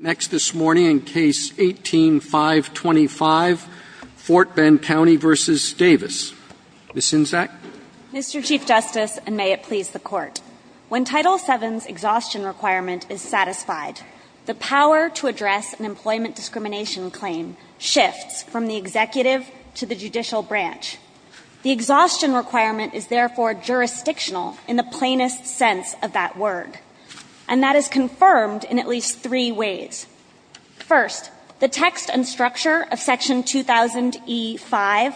When Title VII's exhaustion requirement is satisfied, the power to address an employment discrimination claim shifts from the executive to the judicial branch. The exhaustion requirement is therefore jurisdictional, in the plainest sense of that word. And that is confirmed in at least three different cases. First, the text and structure of Section 2000e-5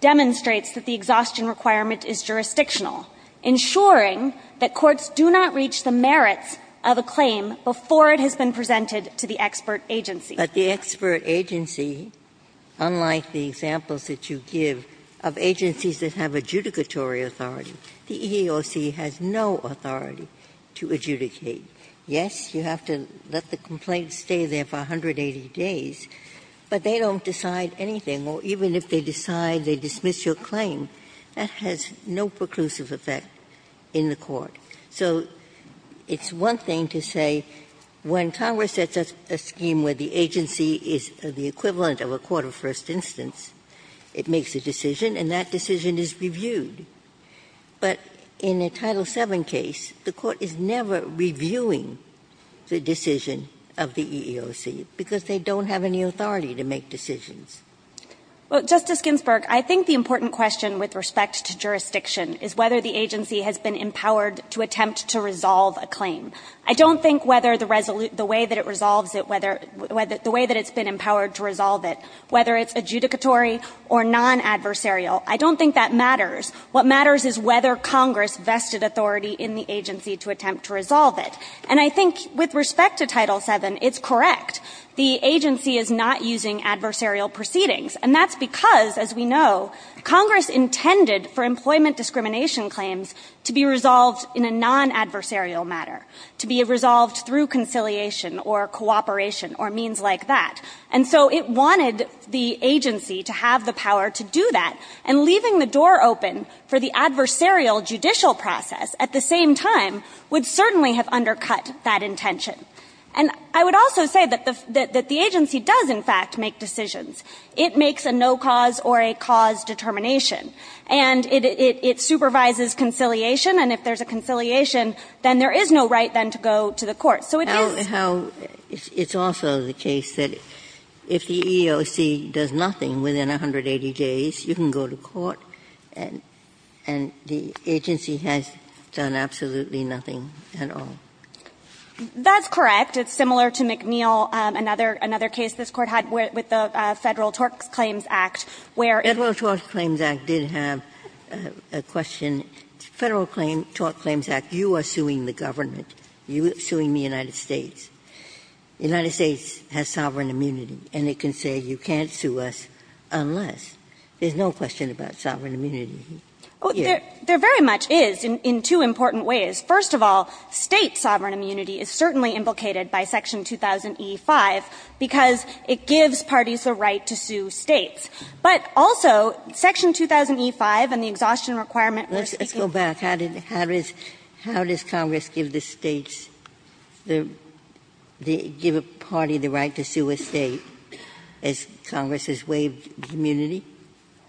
demonstrates that the exhaustion requirement is jurisdictional, ensuring that courts do not reach the merits of a claim before it has been presented to the expert agency. Ginsburg But the expert agency, unlike the examples that you give of agencies that have adjudicatory authority, the EEOC has no authority to adjudicate. Yes, you have to let the complaint stay there for 180 days, but they don't decide anything, or even if they decide, they dismiss your claim. That has no preclusive effect in the Court. So it's one thing to say when Congress sets a scheme where the agency is the equivalent of a court of first instance, it makes a decision, and that decision is reviewed. But in a Title VII case, the Court is never reviewing the decision of the EEOC, because they don't have any authority to make decisions. Kagan Well, Justice Ginsburg, I think the important question with respect to jurisdiction is whether the agency has been empowered to attempt to resolve a claim. I don't think whether the way that it resolves it, whether the way that it's been empowered to resolve it, whether it's adjudicatory or non-adversarial, I don't think that matters. What matters is whether Congress vested authority in the agency to attempt to resolve it. And I think with respect to Title VII, it's correct. The agency is not using adversarial proceedings, and that's because, as we know, Congress intended for employment discrimination claims to be resolved in a non-adversarial matter, to be resolved through conciliation or cooperation or means like that. And so it wanted the agency to have the power to do that. And leaving the door open for the adversarial judicial process at the same time would certainly have undercut that intention. And I would also say that the agency does, in fact, make decisions. It makes a no-cause or a cause determination. And it supervises conciliation, and if there's a conciliation, then there is no right then to go to the court. So it is the case that if the EEOC does nothing within 180 days, you can go to court, and the agency has done absolutely nothing at all. That's correct. It's similar to McNeil, another case this Court had with the Federal Tort Claims Act, where it was the Federal Tort Claims Act did have a question. Federal Tort Claims Act, you are suing the government. You are suing the United States. The United States has sovereign immunity, and it can say you can't sue us unless. There's no question about sovereign immunity here. There very much is in two important ways. First of all, State sovereign immunity is certainly implicated by Section 2000e5 because it gives parties the right to sue States. But also, Section 2000e5 and the exhaustion requirement we're speaking of. Ginsburg, how does Congress give the States, give a party the right to sue a State as Congress has waived immunity?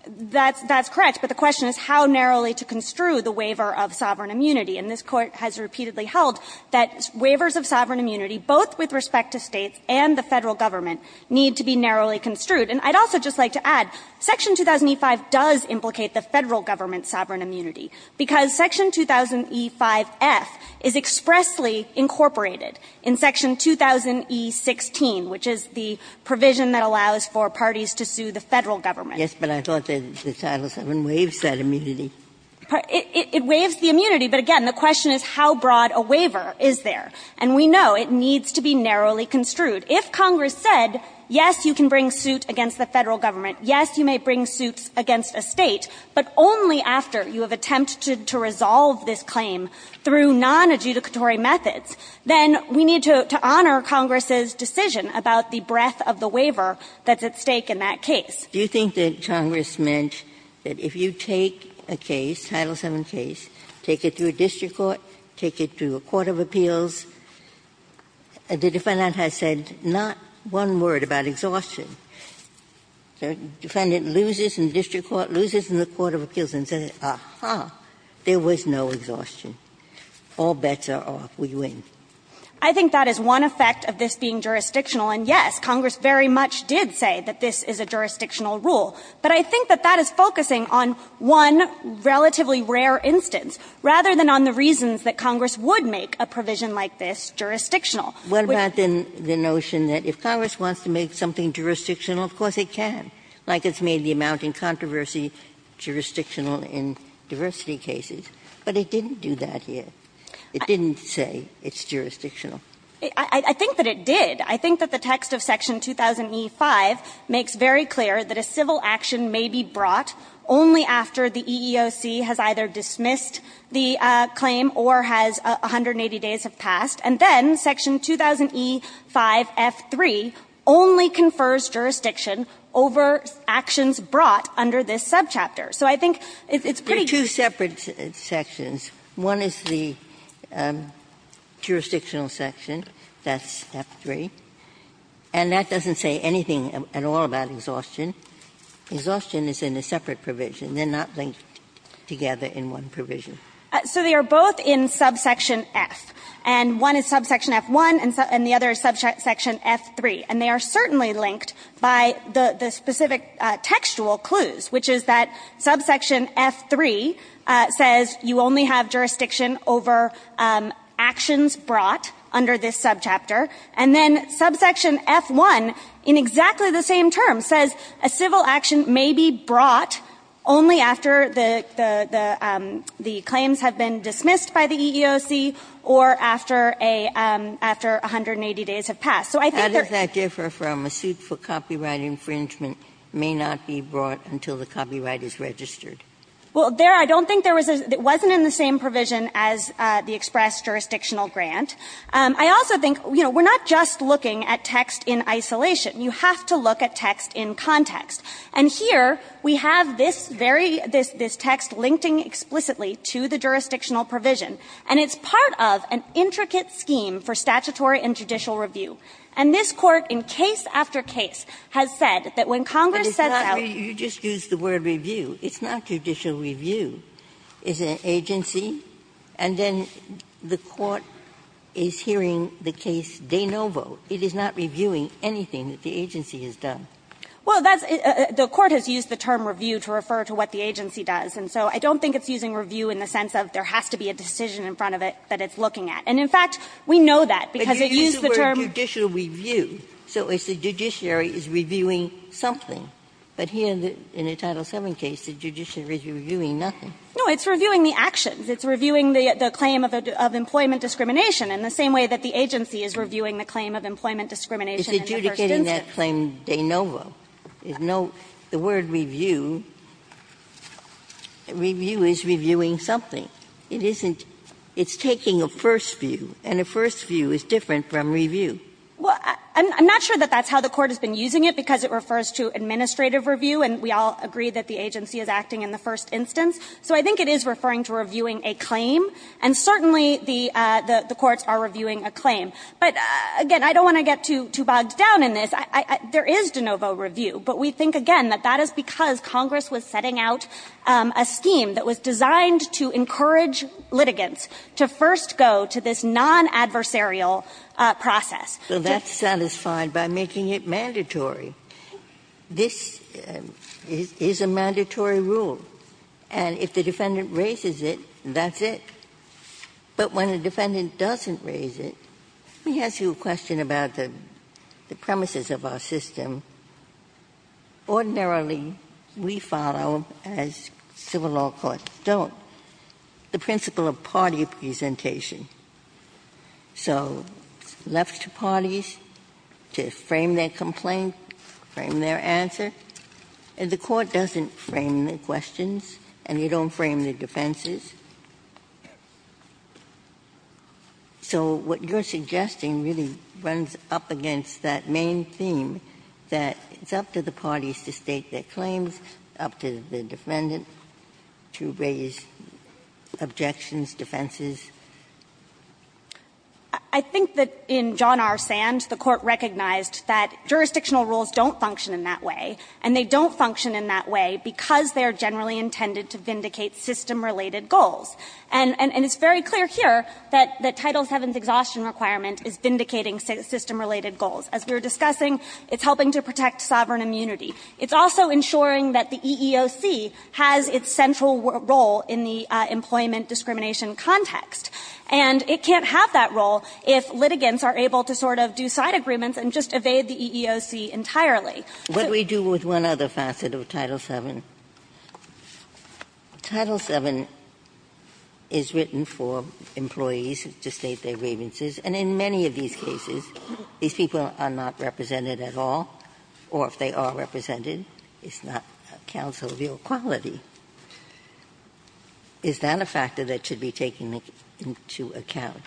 That's correct. But the question is how narrowly to construe the waiver of sovereign immunity. And this Court has repeatedly held that waivers of sovereign immunity, both with respect to States and the Federal Government, need to be narrowly construed. And I'd also just like to add, Section 2000e5 does implicate the Federal Government's immunity because Section 2000e5-F is expressly incorporated in Section 2000e16, which is the provision that allows for parties to sue the Federal Government. Yes, but I thought that Title VII waives that immunity. It waives the immunity, but again, the question is how broad a waiver is there. And we know it needs to be narrowly construed. If Congress said, yes, you can bring suit against the Federal Government, yes, you may bring suits against a State, but only after you have attempted to resolve this claim through nonadjudicatory methods, then we need to honor Congress's decision about the breadth of the waiver that's at stake in that case. Do you think that Congress meant that if you take a case, Title VII case, take it to a district court, take it to a court of appeals, the defendant has said not one word about exhaustion, the defendant loses in the district court, loses in the court of appeals, and says, ah-ha, there was no exhaustion, all bets are off, we win? I think that is one effect of this being jurisdictional. And yes, Congress very much did say that this is a jurisdictional rule. But I think that that is focusing on one relatively rare instance, rather than on the reasons that Congress would make a provision like this jurisdictional. Ginsburg. What about the notion that if Congress wants to make something jurisdictional, of course it can, like it's made the amount in controversy jurisdictional in diversity cases. But it didn't do that here. It didn't say it's jurisdictional. I think that it did. I think that the text of Section 2000e5 makes very clear that a civil action may be brought only after the EEOC has either dismissed the claim or has 180 days have passed, and then Section 2000e5-f-3 only confers jurisdiction over actions brought under this subchapter. So I think it's pretty clear. Ginsburg. Two separate sections. One is the jurisdictional section, that's f-3, and that doesn't say anything at all about exhaustion. Exhaustion is in a separate provision. They are not linked together in one provision. So they are both in subsection f. And one is subsection f-1, and the other is subsection f-3. And they are certainly linked by the specific textual clues, which is that subsection f-3 says you only have jurisdiction over actions brought under this subchapter. And then subsection f-1, in exactly the same term, says a civil action may be brought only after the claims have been dismissed by the EEOC or after 180 days have passed. So I think there's not a difference. Ginsburg. How does that differ from a suit for copyright infringement may not be brought until the copyright is registered? Well, there I don't think there was a – it wasn't in the same provision as the express jurisdictional grant. I also think, you know, we're not just looking at text in isolation. You have to look at text in context. And here we have this very – this text linked explicitly to the jurisdictional provision. And it's part of an intricate scheme for statutory and judicial review. And this Court, in case after case, has said that when Congress sets out – But it's not – you just used the word review. It's not judicial review. It's an agency, and then the Court is hearing the case de novo. It is not reviewing anything that the agency has done. Well, that's – the Court has used the term review to refer to what the agency does. And so I don't think it's using review in the sense of there has to be a decision in front of it that it's looking at. And in fact, we know that, because it used the term – But you used the word judicial review. So it's the judiciary is reviewing something. But here in the Title VII case, the judiciary is reviewing nothing. No, it's reviewing the actions. It's reviewing the claim of employment discrimination in the same way that the agency is reviewing the claim of employment discrimination in the first instance. But it's not using that claim de novo. There's no – the word review – review is reviewing something. It isn't – it's taking a first view, and a first view is different from review. Well, I'm not sure that that's how the Court has been using it, because it refers to administrative review, and we all agree that the agency is acting in the first instance. So I think it is referring to reviewing a claim, and certainly the courts are reviewing a claim. But again, I don't want to get too bogged down in this. There is de novo review, but we think, again, that that is because Congress was setting out a scheme that was designed to encourage litigants to first go to this non-adversarial process. Ginsburg. Ginsburg. Well, that's satisfied by making it mandatory. This is a mandatory rule, and if the defendant raises it, that's it. But when a defendant doesn't raise it – let me ask you a question about the premises of our system. Ordinarily, we follow, as civil law courts don't, the principle of party presentation. So it's left to parties to frame their complaint, frame their answer. And the Court doesn't frame the questions, and you don't frame the defenses. So what you're suggesting really runs up against that main theme, that it's up to the parties to state their claims, up to the defendant to raise objections, defenses. I think that in John R. Sand, the Court recognized that jurisdictional rules don't function in that way, and they don't function in that way because they are generally intended to vindicate system-related goals. And it's very clear here that Title VII's exhaustion requirement is vindicating system-related goals. As we were discussing, it's helping to protect sovereign immunity. It's also ensuring that the EEOC has its central role in the employment discrimination context. And it can't have that role if litigants are able to sort of do side agreements and just evade the EEOC entirely. Ginsburg-Miller What do we do with one other facet of Title VII? Title VII is written for employees to state their grievances, and in many of these cases, these people are not represented at all, or if they are represented, it's not a counsel of your quality. Is that a factor that should be taken into account?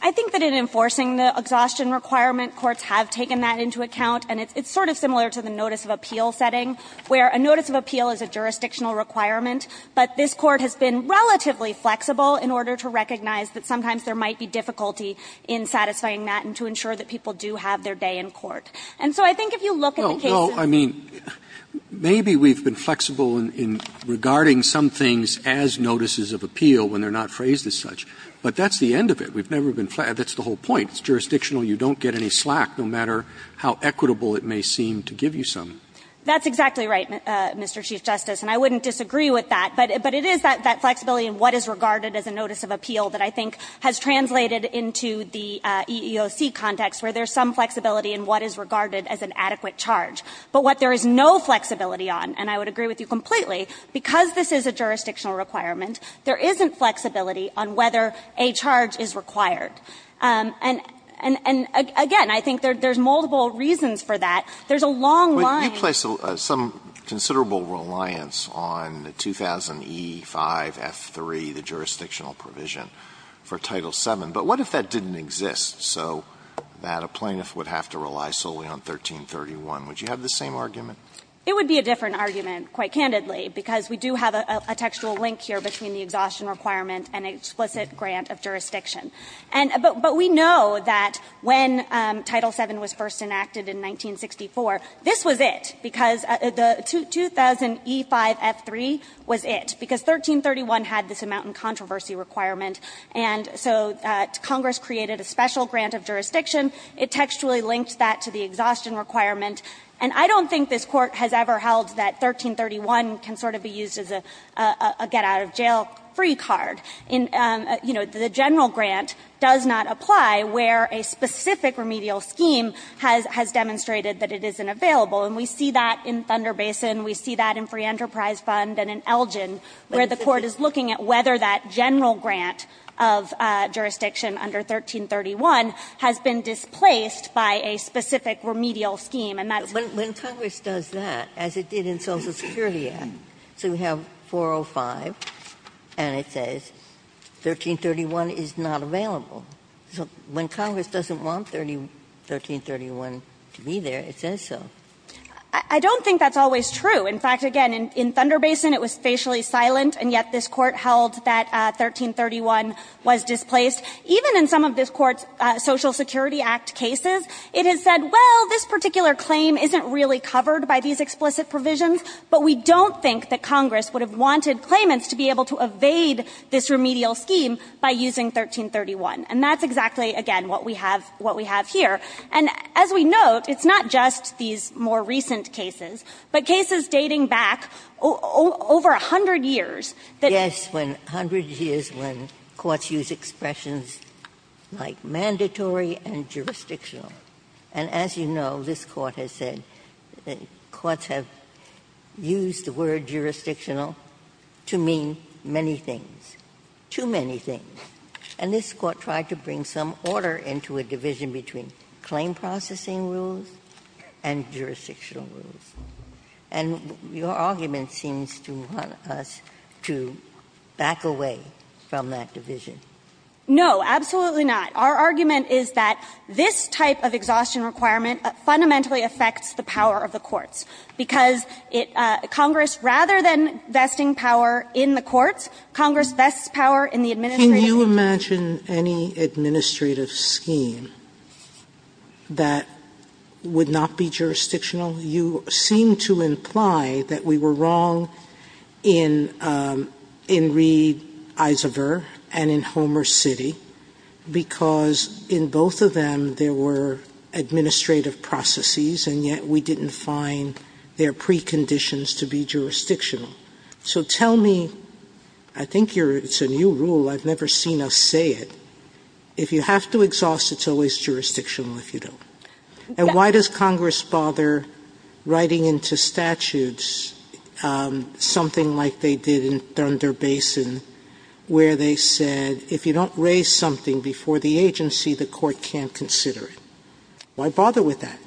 I think that in enforcing the exhaustion requirement, courts have taken that into account, and it's sort of similar to the notice of appeal setting, where a notice of appeal is a jurisdictional requirement, but this Court has been relatively flexible in order to recognize that sometimes there might be difficulty in satisfying that and to ensure that people do have their day in court. And so I think if you look at the case of the Court of Appeals, I think it's a matter of whether or not it's a jurisdictional requirement, whether or not it's a jurisdictional requirement, and how equitable it may seem to give you some. That's exactly right, Mr. Chief Justice, and I wouldn't disagree with that, but it is that flexibility in what is regarded as a notice of appeal that I think has translated into the EEOC context, where there's some flexibility in what is regarded as an adequate charge. But what there is no flexibility on, and I would agree with you completely, because this is a jurisdictional requirement, there isn't flexibility on whether a charge is required. And again, I think there's multiple reasons for that. There's a long line. Alitoson, you place some considerable reliance on the 2000e5f3, the jurisdictional provision for Title VII, but what if that didn't exist, so that a plaintiff would have to rely solely on 1331? Would you have the same argument? It would be a different argument, quite candidly, because we do have a textual link here between the exhaustion requirement and explicit grant of jurisdiction. But we know that when Title VII was first enacted in 1964, this was it, because the 2000e5f3 was it, because 1331 had this amount in controversy requirement. And so Congress created a special grant of jurisdiction. It textually linked that to the exhaustion requirement. And I don't think this Court has ever held that 1331 can sort of be used as a get-out-of-jail free card. In, you know, the general grant does not apply where a specific remedial scheme has demonstrated that it isn't available. And we see that in Thunder Basin, we see that in Free Enterprise Fund and in Elgin, where the Court is looking at whether that general grant of jurisdiction under 1331 has been displaced by a specific remedial scheme. And that's what Congress does that, as it did in Social Security Act. Ginsburg. So we have 405, and it says 1331 is not available. So when Congress doesn't want 1331 to be there, it says so. I don't think that's always true. In fact, again, in Thunder Basin, it was facially silent, and yet this Court held that 1331 was displaced. Even in some of this Court's Social Security Act cases, it has said, well, this particular claim isn't really covered by these explicit provisions, but we don't think that Congress would have wanted claimants to be able to evade this remedial scheme by using 1331. And that's exactly, again, what we have here. And as we note, it's not just these more recent cases, but cases dating back over a hundred years that we've seen. Ginsburg. Yes, when a hundred years when courts use expressions like mandatory and jurisdictional. And as you know, this Court has said courts have used the word jurisdictional to mean many things, too many things. And this Court tried to bring some order into a division between claim processing rules and jurisdictional rules. And your argument seems to want us to back away from that division. No, absolutely not. Our argument is that this type of exhaustion requirement fundamentally affects the power of the courts, because Congress, rather than vesting power in the courts, Congress vests power in the administration. Sotomayor Can you imagine any administrative scheme that would not be jurisdictional? You seem to imply that we were wrong in Reed-Isaver and in Homer City because in both of them there were administrative processes, and yet we didn't find their preconditions to be jurisdictional. So tell me, I think it's a new rule, I've never seen us say it, if you have to exhaust it, it's always jurisdictional if you don't. And why does Congress bother writing into statutes something like they did in Thunder Basin, where they said if you don't raise something before the agency, the court can't consider it? Why bother with that?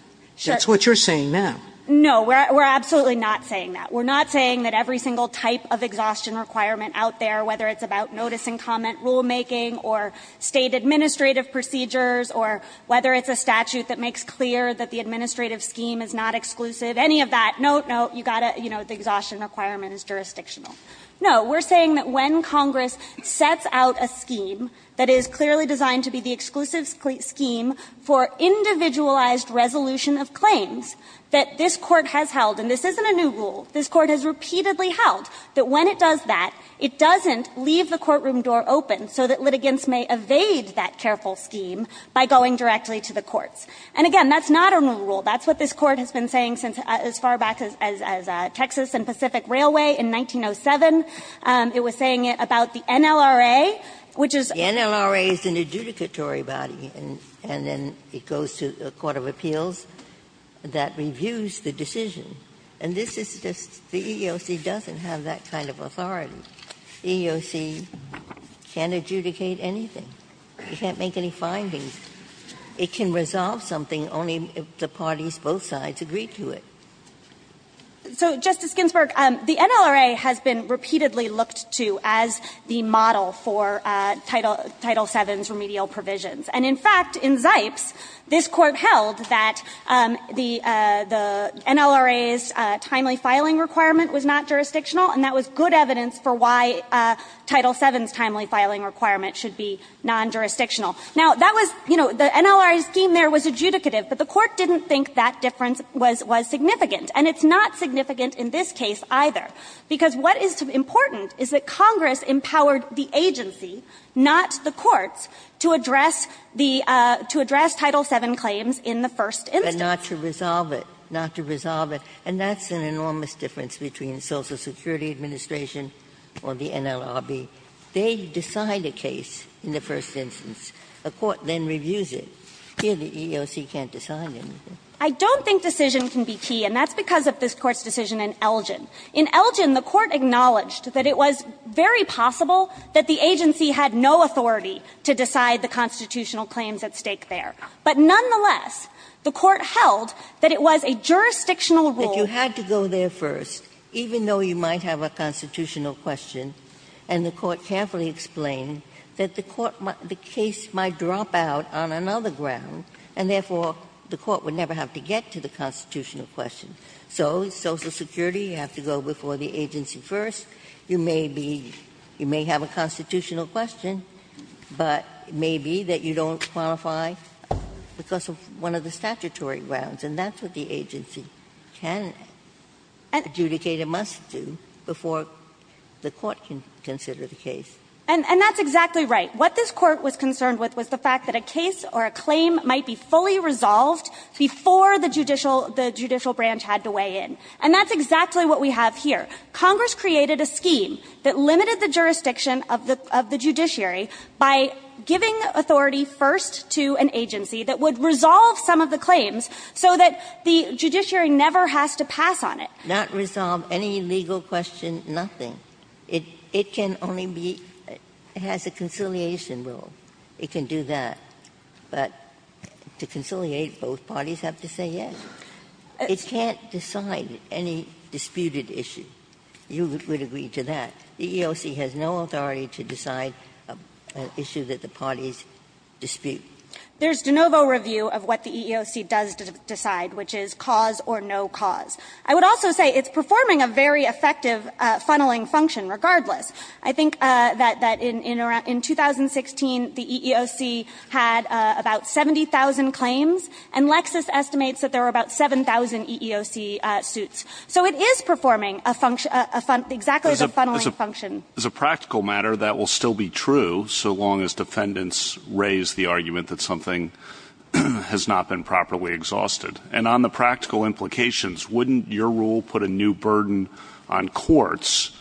That's what you're saying now. No, we're absolutely not saying that. We're not saying that every single type of exhaustion requirement out there, whether it's about notice and comment rulemaking or State administrative procedures or whether it's a statute that makes clear that the administrative scheme is not exclusive, any of that, no, no, you've got to, you know, the exhaustion requirement is jurisdictional. No, we're saying that when Congress sets out a scheme that is clearly designed to be the exclusive scheme for individualized resolution of claims, that this Court has held, and this isn't a new rule, this Court has repeatedly held that when it does that, it doesn't leave the courtroom door open so that litigants may evade that careful scheme by going directly to the courts. And again, that's not a new rule. That's what this Court has been saying since as far back as Texas and Pacific Railway in 1907. It was saying it about the NLRA, which is a court of appeals that reviews the decision. And this is just the EEOC doesn't have that kind of authority. EEOC can't adjudicate anything. It can't make any findings. It can resolve something only if the parties both sides agree to it. So, Justice Ginsburg, the NLRA has been repeatedly looked to as the model for Title VII's remedial provisions. And in fact, in Zipes, this Court held that the NLRA's timely filing requirement was not jurisdictional, and that was good evidence for why Title VII's timely filing requirement should be non-jurisdictional. Now, that was, you know, the NLRA scheme there was adjudicative, but the Court didn't think that difference was significant, and it's not significant in this case either. Because what is important is that Congress empowered the agency, not the courts, to address the to address Title VII claims in the first instance. Ginsburg, and not to resolve it, not to resolve it. And that's an enormous difference between the Social Security Administration or the NLRB. They decide a case in the first instance. A court then reviews it. Here, the EEOC can't decide anything. I don't think decision can be key, and that's because of this Court's decision in Elgin. In Elgin, the Court acknowledged that it was very possible that the agency had no authority to decide the constitutional claims at stake there. But nonetheless, the Court held that it was a jurisdictional rule. That you had to go there first, even though you might have a constitutional question, and the Court carefully explained that the court might the case might drop out on another ground, and therefore, the Court would never have to get to the constitutional question. So Social Security, you have to go before the agency first. You may be you may have a constitutional question, but it may be that you don't qualify because of one of the statutory grounds, and that's what the agency can adjudicate a must do before the court can consider the case. And that's exactly right. What this Court was concerned with was the fact that a case or a claim might be fully resolved before the judicial the judicial branch had to weigh in, and that's exactly what we have here. Congress created a scheme that limited the jurisdiction of the judiciary by giving authority first to an agency that would resolve some of the claims so that the judiciary never has to pass on it. Ginsburg's not resolve any legal question, nothing. It can only be has a conciliation rule. It can do that. But to conciliate, both parties have to say yes. It can't decide any disputed issue. You would agree to that. The EEOC has no authority to decide an issue that the parties dispute. There's de novo review of what the EEOC does decide, which is cause or no cause. I would also say it's performing a very effective funneling function regardless. I think that in 2016, the EEOC had about 70,000 claims, and Lexis estimates that there were about 7,000 EEOC suits. So it is performing a function, exactly the funneling function. As a practical matter, that will still be true so long as defendants raise the argument that something has not been properly exhausted. And on the practical implications, wouldn't your rule put a new burden on courts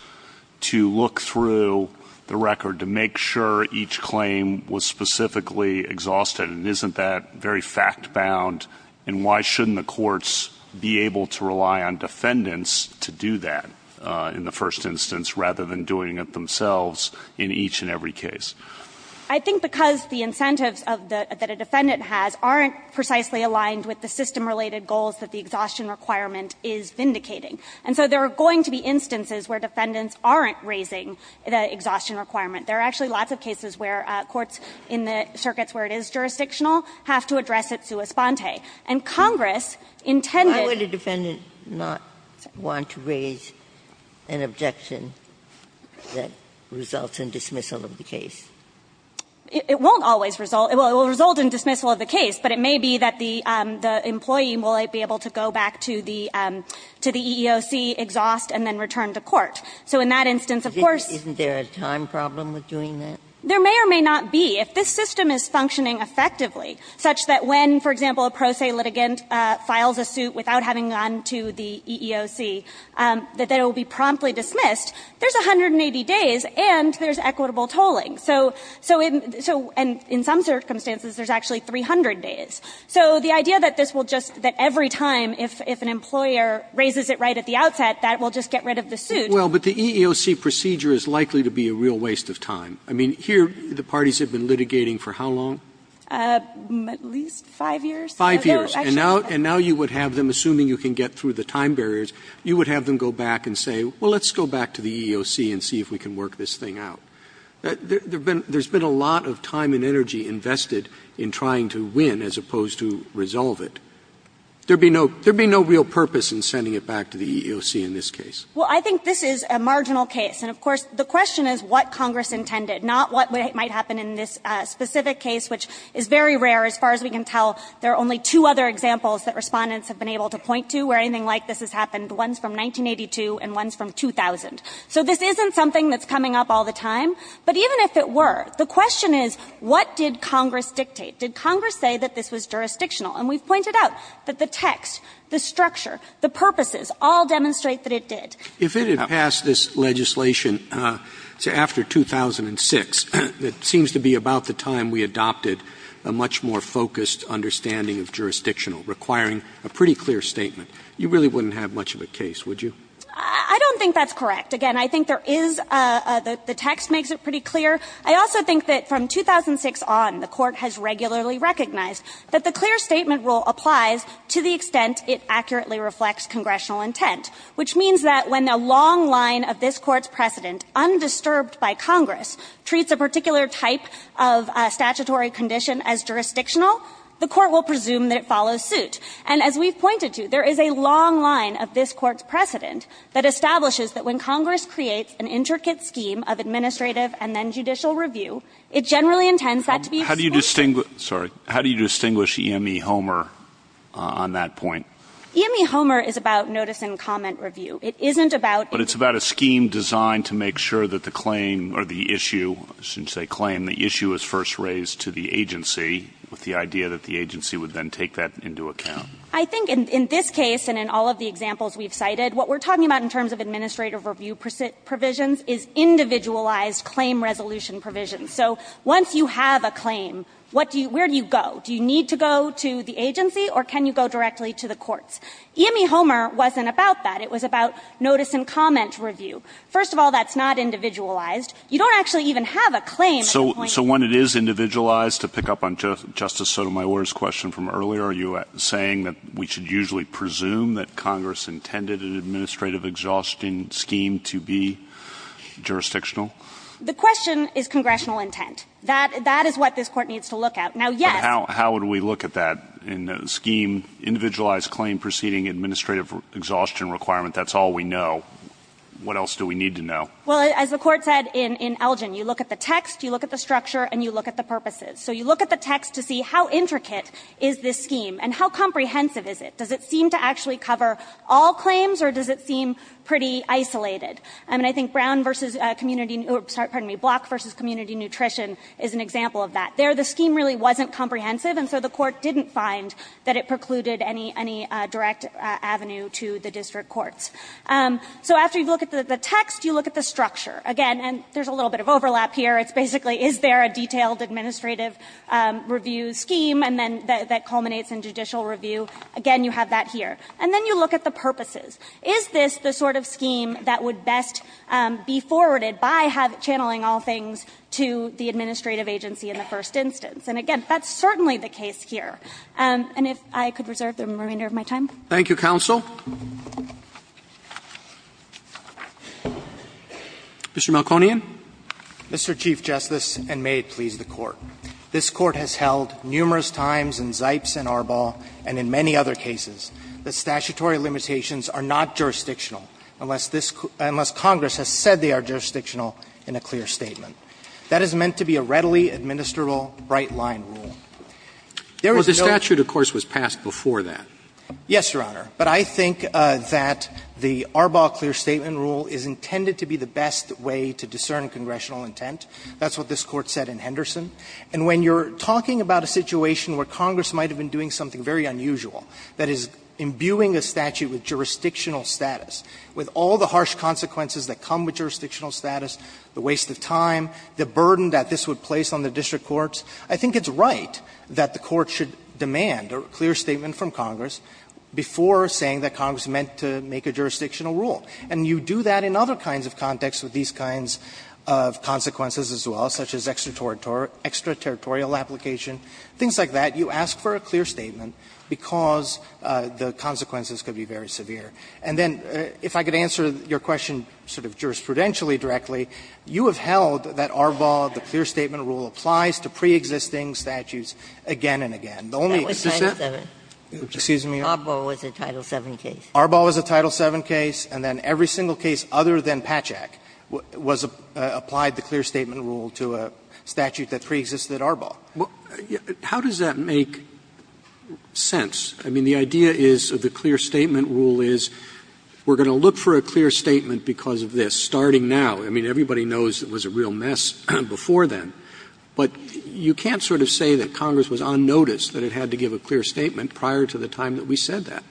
to look through the record to make sure each claim was specifically exhausted? And isn't that very fact-bound? And why shouldn't the courts be able to rely on defendants to do that in the first instance rather than doing it themselves in each and every case? I think because the incentives that a defendant has aren't precisely aligned with the system related goals that the exhaustion requirement is vindicating. And so there are going to be instances where defendants aren't raising the exhaustion requirement. There are actually lots of cases where courts in the circuits where it is jurisdictional have to address it sua sponte. And Congress intended to raise an objection that results in dismissal of the case. It won't always result – it will result in dismissal of the case, but it may be that the employee will be able to go back to the EEOC, exhaust, and then return to court. So in that instance, of course – Ginsburg. Isn't there a time problem with doing that? There may or may not be. If this system is functioning effectively, such that when, for example, a pro se litigant files a suit without having gone to the EEOC, that it will be promptly dismissed, there's 180 days and there's equitable tolling. So in some circumstances, there's actually 300 days. So the idea that this will just – that every time if an employer raises it right at the outset, that will just get rid of the suit. Well, but the EEOC procedure is likely to be a real waste of time. I mean, here the parties have been litigating for how long? At least 5 years. 5 years. And now you would have them, assuming you can get through the time barriers, you would have them go back and say, well, let's go back to the EEOC and see if we can work this thing out. There's been a lot of time and energy invested in trying to win as opposed to resolve it. There would be no real purpose in sending it back to the EEOC in this case. Well, I think this is a marginal case. And of course, the question is what Congress intended, not what might happen in this specific case, which is very rare as far as we can tell. There are only two other examples that Respondents have been able to point to where anything like this has happened, ones from 1982 and ones from 2000. So this isn't something that's coming up all the time. But even if it were, the question is what did Congress dictate? Did Congress say that this was jurisdictional? And we've pointed out that the text, the structure, the purposes all demonstrate that it did. Roberts. If it had passed this legislation after 2006, it seems to be about the time we adopted a much more focused understanding of jurisdictional, requiring a pretty clear statement. You really wouldn't have much of a case, would you? I don't think that's correct. Again, I think there is a the text makes it pretty clear. I also think that from 2006 on, the Court has regularly recognized that the clear statement rule applies to the extent it accurately reflects congressional intent, which means that when a long line of this Court's precedent, undisturbed by Congress, treats a particular type of statutory condition as jurisdictional, the Court will presume that it follows suit. And as we've pointed to, there is a long line of this Court's precedent that establishes that when Congress creates an intricate scheme of administrative and then judicial review, it generally intends that to be excluded. How do you distinguish, sorry, how do you distinguish EME Homer on that point? EME Homer is about notice and comment review. It isn't about. But it's about a scheme designed to make sure that the claim or the issue, since they claim the issue is first raised to the agency, with the idea that the agency would then take that into account. I think in this case and in all of the examples we've cited, what we're talking about in terms of administrative review provisions is individualized claim resolution provisions. So once you have a claim, what do you do, where do you go? Do you need to go to the agency or can you go directly to the courts? EME Homer wasn't about that. It was about notice and comment review. First of all, that's not individualized. You don't actually even have a claim. So when it is individualized, to pick up on Justice Sotomayor's question from earlier, are you saying that we should usually presume that Congress intended an administrative exhaustion scheme to be jurisdictional? The question is congressional intent. That is what this Court needs to look at. Now, yes. But how would we look at that in the scheme, individualized claim proceeding administrative exhaustion requirement? That's all we know. What else do we need to know? Well, as the Court said in Elgin, you look at the text, you look at the structure, and you look at the purposes. So you look at the text to see how intricate is this scheme and how comprehensive is it? Does it seem to actually cover all claims or does it seem pretty isolated? I mean, I think Brown versus community, sorry, pardon me, Block versus community nutrition is an example of that. There, the scheme really wasn't comprehensive, and so the Court didn't find that it precluded any direct avenue to the district courts. So after you look at the text, you look at the structure. Again, and there's a little bit of overlap here. It's basically is there a detailed administrative review scheme and then that culminates in judicial review. Again, you have that here. And then you look at the purposes. Is this the sort of scheme that would best be forwarded by channeling all things to the administrative agency in the first instance? And again, that's certainly the case here. And if I could reserve the remainder of my time. Roberts. Thank you, counsel. Mr. Melkonian. Mr. Chief Justice, and may it please the Court. This Court has held numerous times in Zipes and Arbaugh and in many other cases that statutory limitations are not jurisdictional unless this – unless Congress has said they are jurisdictional in a clear statement. That is meant to be a readily administrable bright-line rule. There is no. Well, the statute, of course, was passed before that. Yes, Your Honor. But I think that the Arbaugh clear statement rule is intended to be the best way to discern congressional intent. That's what this Court said in Henderson. And when you're talking about a situation where Congress might have been doing something very unusual, that is imbuing a statute with jurisdictional status, with all the harsh consequences that come with jurisdictional status, the waste of time, the burden that this would place on the district courts, I think it's right that the Court should demand a clear statement from Congress before saying that Congress meant to make a jurisdictional rule. And you do that in other kinds of contexts with these kinds of consequences as well, such as extraterritorial application, things like that. You ask for a clear statement because the consequences could be very severe. And then, if I could answer your question sort of jurisprudentially directly, you have held that Arbaugh, the clear statement rule, applies to preexisting statutes again and again. The only exception is that Arbaugh was a Title VII case. And then every single case other than Patchak was applied the clear statement rule to a statute that preexisted at Arbaugh. Roberts' How does that make sense? I mean, the idea is that the clear statement rule is, we're going to look for a clear statement because of this, starting now. I mean, everybody knows it was a real mess before then. But you can't sort of say that Congress was on notice that it had to give a clear statement prior to the time that we said that.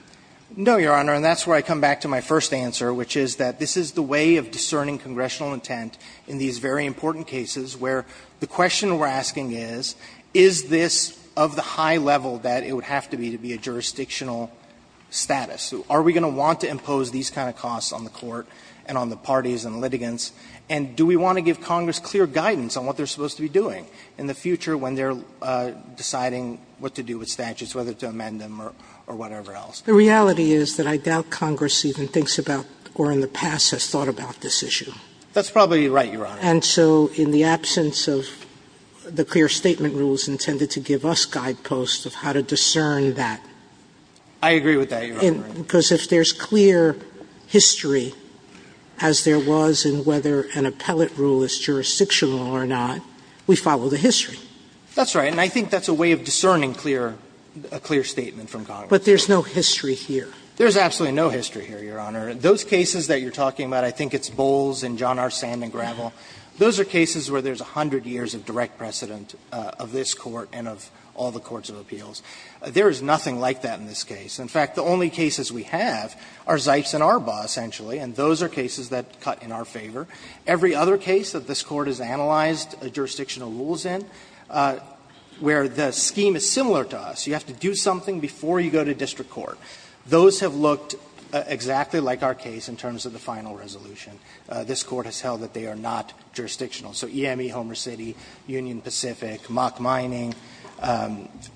No, Your Honor, and that's where I come back to my first answer, which is that this is the way of discerning congressional intent in these very important cases where the question we're asking is, is this of the high level that it would have to be to be a jurisdictional status? Are we going to want to impose these kind of costs on the Court and on the parties and litigants? And do we want to give Congress clear guidance on what they're supposed to be doing in the future when they're deciding what to do with statutes, whether to amend them or whatever else? The reality is that I doubt Congress even thinks about or in the past has thought about this issue. That's probably right, Your Honor. And so in the absence of the clear statement rules intended to give us guideposts of how to discern that. I agree with that, Your Honor. Because if there's clear history, as there was in whether an appellate rule is jurisdictional or not, we follow the history. That's right. And I think that's a way of discerning clear, a clear statement from Congress. But there's no history here. There's absolutely no history here, Your Honor. Those cases that you're talking about, I think it's Bowles and John R. Sandman Gravel, those are cases where there's 100 years of direct precedent of this Court and of all the courts of appeals. There is nothing like that in this case. In fact, the only cases we have are Zipes and Arbaugh, essentially, and those are cases that cut in our favor. Every other case that this Court has analyzed a jurisdictional rule is in, where the scheme is similar to us. You have to do something before you go to district court. Those have looked exactly like our case in terms of the final resolution. This Court has held that they are not jurisdictional. So EME, Homer City, Union Pacific, Mock Mining,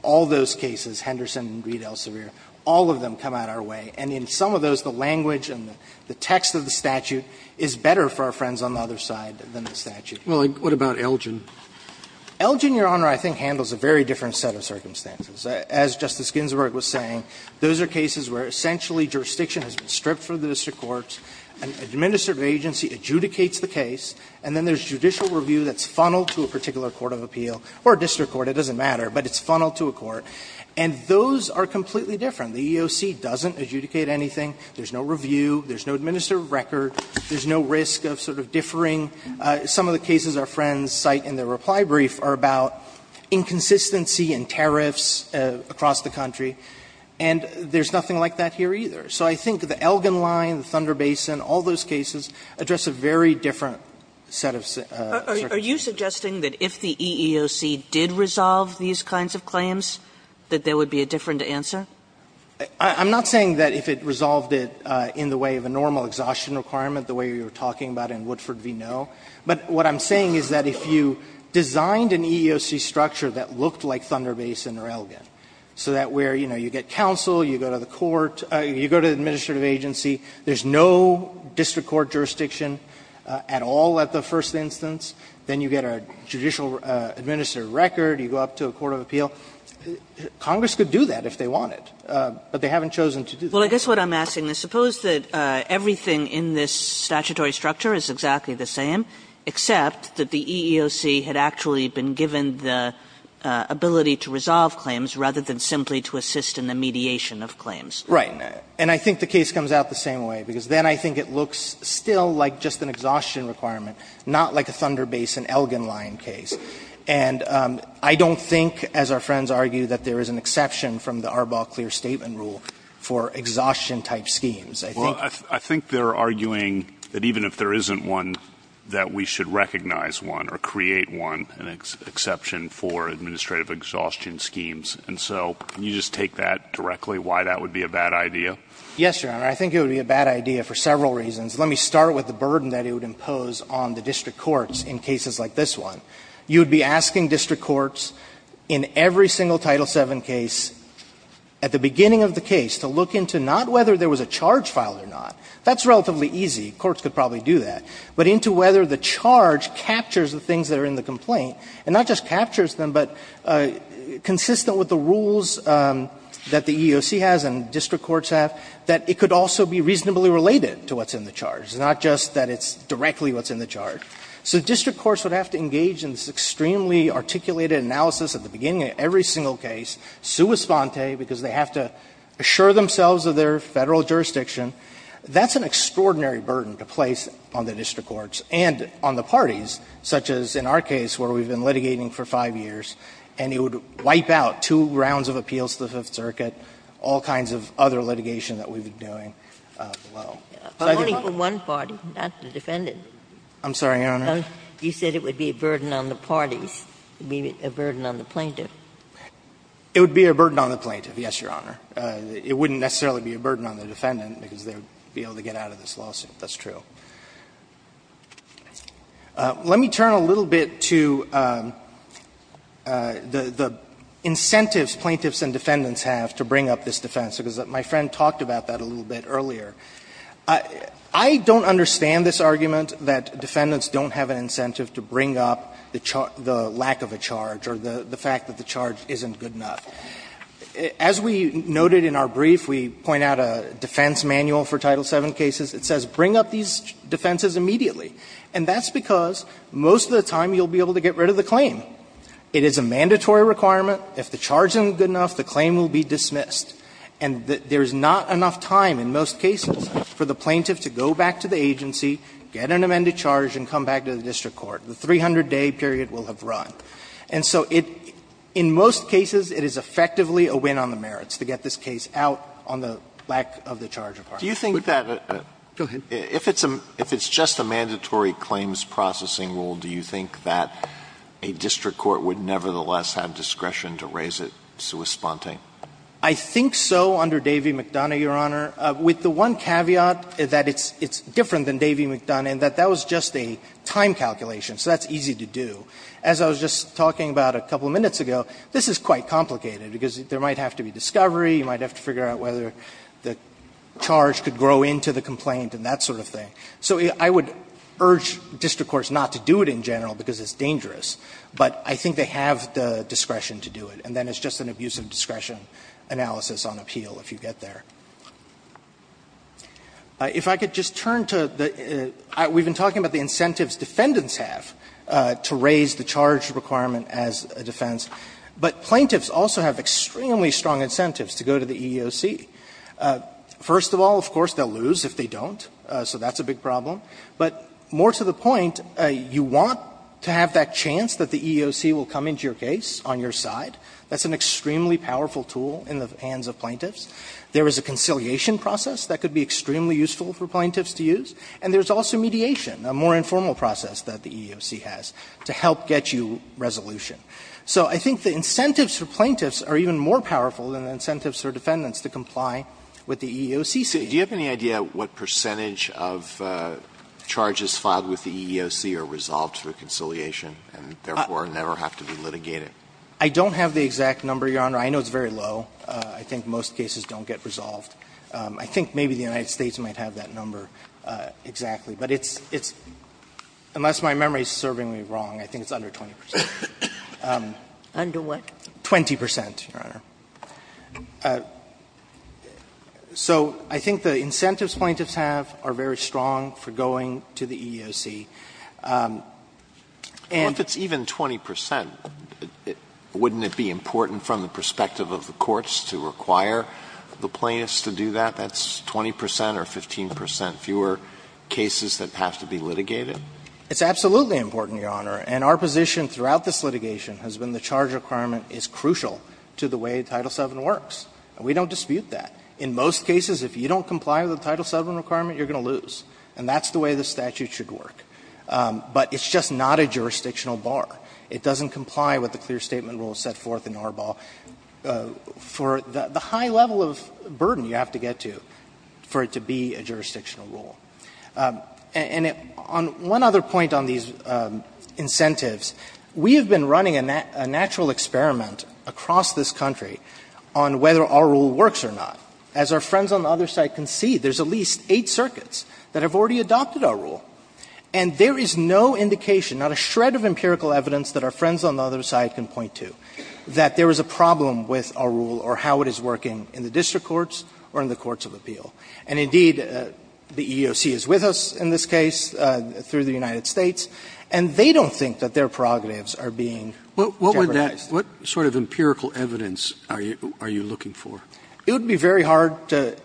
all those cases, Henderson, Reed, Elsevier, all of them come out our way. And in some of those, the language and the text of the statute is better for our friends on the other side than the statute. Roberts. What about Elgin? Elgin, Your Honor, I think handles a very different set of circumstances. As Justice Ginsburg was saying, those are cases where essentially jurisdiction has been stripped from the district courts, an administrative agency adjudicates the case, and then there is judicial review that's funneled to a particular court of appeal, or a district court, it doesn't matter, but it's funneled to a court. And those are completely different. The EEOC doesn't adjudicate anything. There is no review. There is no administrative record. There is no risk of sort of differing. Some of the cases our friends cite in their reply brief are about inconsistency in tariffs across the country, and there is nothing like that here either. So I think the Elgin line, the Thunder Basin, all those cases address a very different set of circumstances. Are you suggesting that if the EEOC did resolve these kinds of claims, that there would be a different answer? I'm not saying that if it resolved it in the way of a normal exhaustion requirement the way you were talking about in Woodford v. Noe, but what I'm saying is that if you looked like Thunder Basin or Elgin, so that where you know, you get counsel, you go to the court, you go to the administrative agency. There is no district court jurisdiction at all at the first instance. Then you get a judicial administrative record. You go up to a court of appeal. Congress could do that if they wanted, but they haven't chosen to do that. Kagan. Well, I guess what I'm asking is, suppose that everything in this statutory structure is exactly the same, except that the EEOC had actually been given the ability to resolve claims rather than simply to assist in the mediation of claims. Right. And I think the case comes out the same way, because then I think it looks still like just an exhaustion requirement, not like a Thunder Basin, Elgin line case. And I don't think, as our friends argue, that there is an exception from the Arbaugh clear statement rule for exhaustion-type schemes. I think they're arguing that even if there isn't one, that we should recognize one or create one, an exception for administrative exhaustion schemes. And so can you just take that directly, why that would be a bad idea? Yes, Your Honor. I think it would be a bad idea for several reasons. Let me start with the burden that it would impose on the district courts in cases like this one. You would be asking district courts in every single Title VII case, at the beginning of the case, to look into not whether there was a charge filed or not. That's relatively easy. Courts could probably do that. But into whether the charge captures the things that are in the complaint, and not just captures them, but consistent with the rules that the EEOC has and district courts have, that it could also be reasonably related to what's in the charge, not just that it's directly what's in the charge. So district courts would have to engage in this extremely articulated analysis at the beginning of every single case, sua sponte, because they have to assure themselves of their Federal jurisdiction. That's an extraordinary burden to place on the district courts and on the parties, such as in our case where we've been litigating for 5 years, and it would wipe out two rounds of appeals to the Fifth Circuit, all kinds of other litigation that we've done, Your Honor. You said it would be a burden on the parties, a burden on the plaintiff. It would be a burden on the plaintiff, yes, Your Honor. It wouldn't necessarily be a burden on the defendant, because they would be able to get out of this lawsuit. That's true. Let me turn a little bit to the incentives plaintiffs and defendants have to bring up this defense, because my friend talked about that a little bit earlier. I don't understand this argument that defendants don't have an incentive to bring up the lack of a charge or the fact that the charge isn't good enough. As we noted in our brief, we point out a defense manual for Title VII cases. It says bring up these defenses immediately. And that's because most of the time you'll be able to get rid of the claim. It is a mandatory requirement. And there is not enough time in most cases for the plaintiff to go back to the agency, get an amended charge, and come back to the district court. The 300-day period will have run. And so it – in most cases, it is effectively a win on the merits to get this case out on the lack of the charge of harm. Alito, go ahead. Alito, if it's just a mandatory claims processing rule, do you think that a district court would nevertheless have discretion to raise it sui sponte? I think so under Davie-McDonough, Your Honor, with the one caveat that it's different than Davie-McDonough, and that that was just a time calculation, so that's easy to do. As I was just talking about a couple of minutes ago, this is quite complicated, because there might have to be discovery, you might have to figure out whether the charge could grow into the complaint and that sort of thing. So I would urge district courts not to do it in general because it's dangerous. But I think they have the discretion to do it. And then it's just an abuse of discretion analysis on appeal, if you get there. If I could just turn to the – we've been talking about the incentives defendants have to raise the charge requirement as a defense. But plaintiffs also have extremely strong incentives to go to the EEOC. First of all, of course, they'll lose if they don't, so that's a big problem. But more to the point, you want to have that chance that the EEOC will come into your case on your side. That's an extremely powerful tool in the hands of plaintiffs. There is a conciliation process that could be extremely useful for plaintiffs to use. And there's also mediation, a more informal process that the EEOC has, to help get you resolution. So I think the incentives for plaintiffs are even more powerful than the incentives for defendants to comply with the EEOC standards. Alito, do you have any idea what percentage of charges filed with the EEOC are resolved through conciliation and therefore never have to be litigated? I don't have the exact number, Your Honor. I know it's very low. I think most cases don't get resolved. I think maybe the United States might have that number exactly. But it's unless my memory is serving me wrong, I think it's under 20 percent. Under what? 20 percent, Your Honor. So I think the incentives plaintiffs have are very strong for going to the EEOC. And the EEOC is a very strong incentive for the plaintiffs to comply with the EEOC. And so I think the incentives plaintiffs have are very strong for going to the EEOC. And if it's even 20 percent, wouldn't it be important from the perspective of the courts to require the plaintiffs to do that? That's 20 percent or 15 percent fewer cases that have to be litigated? It's absolutely important, Your Honor. And our position throughout this litigation has been the charge requirement is crucial to the way Title VII works. And we don't dispute that. In most cases, if you don't comply with the Title VII requirement, you're going to lose. And that's the way the statute should work. But it's just not a jurisdictional bar. It doesn't comply with the clear statement rule set forth in Arbol for the high level of burden you have to get to for it to be a jurisdictional rule. And on one other point on these incentives, we have been running a natural experiment across this country on whether our rule works or not. As our friends on the other side can see, there's at least eight circuits that have already adopted our rule. And there is no indication, not a shred of empirical evidence that our friends on the other side can point to, that there is a problem with our rule or how it is working in the district courts or in the courts of appeal. And, indeed, the EEOC is with us in this case through the United States, and they don't think that their prerogatives are being jeopardized. Roberts. What sort of empirical evidence are you looking for? It would be very hard to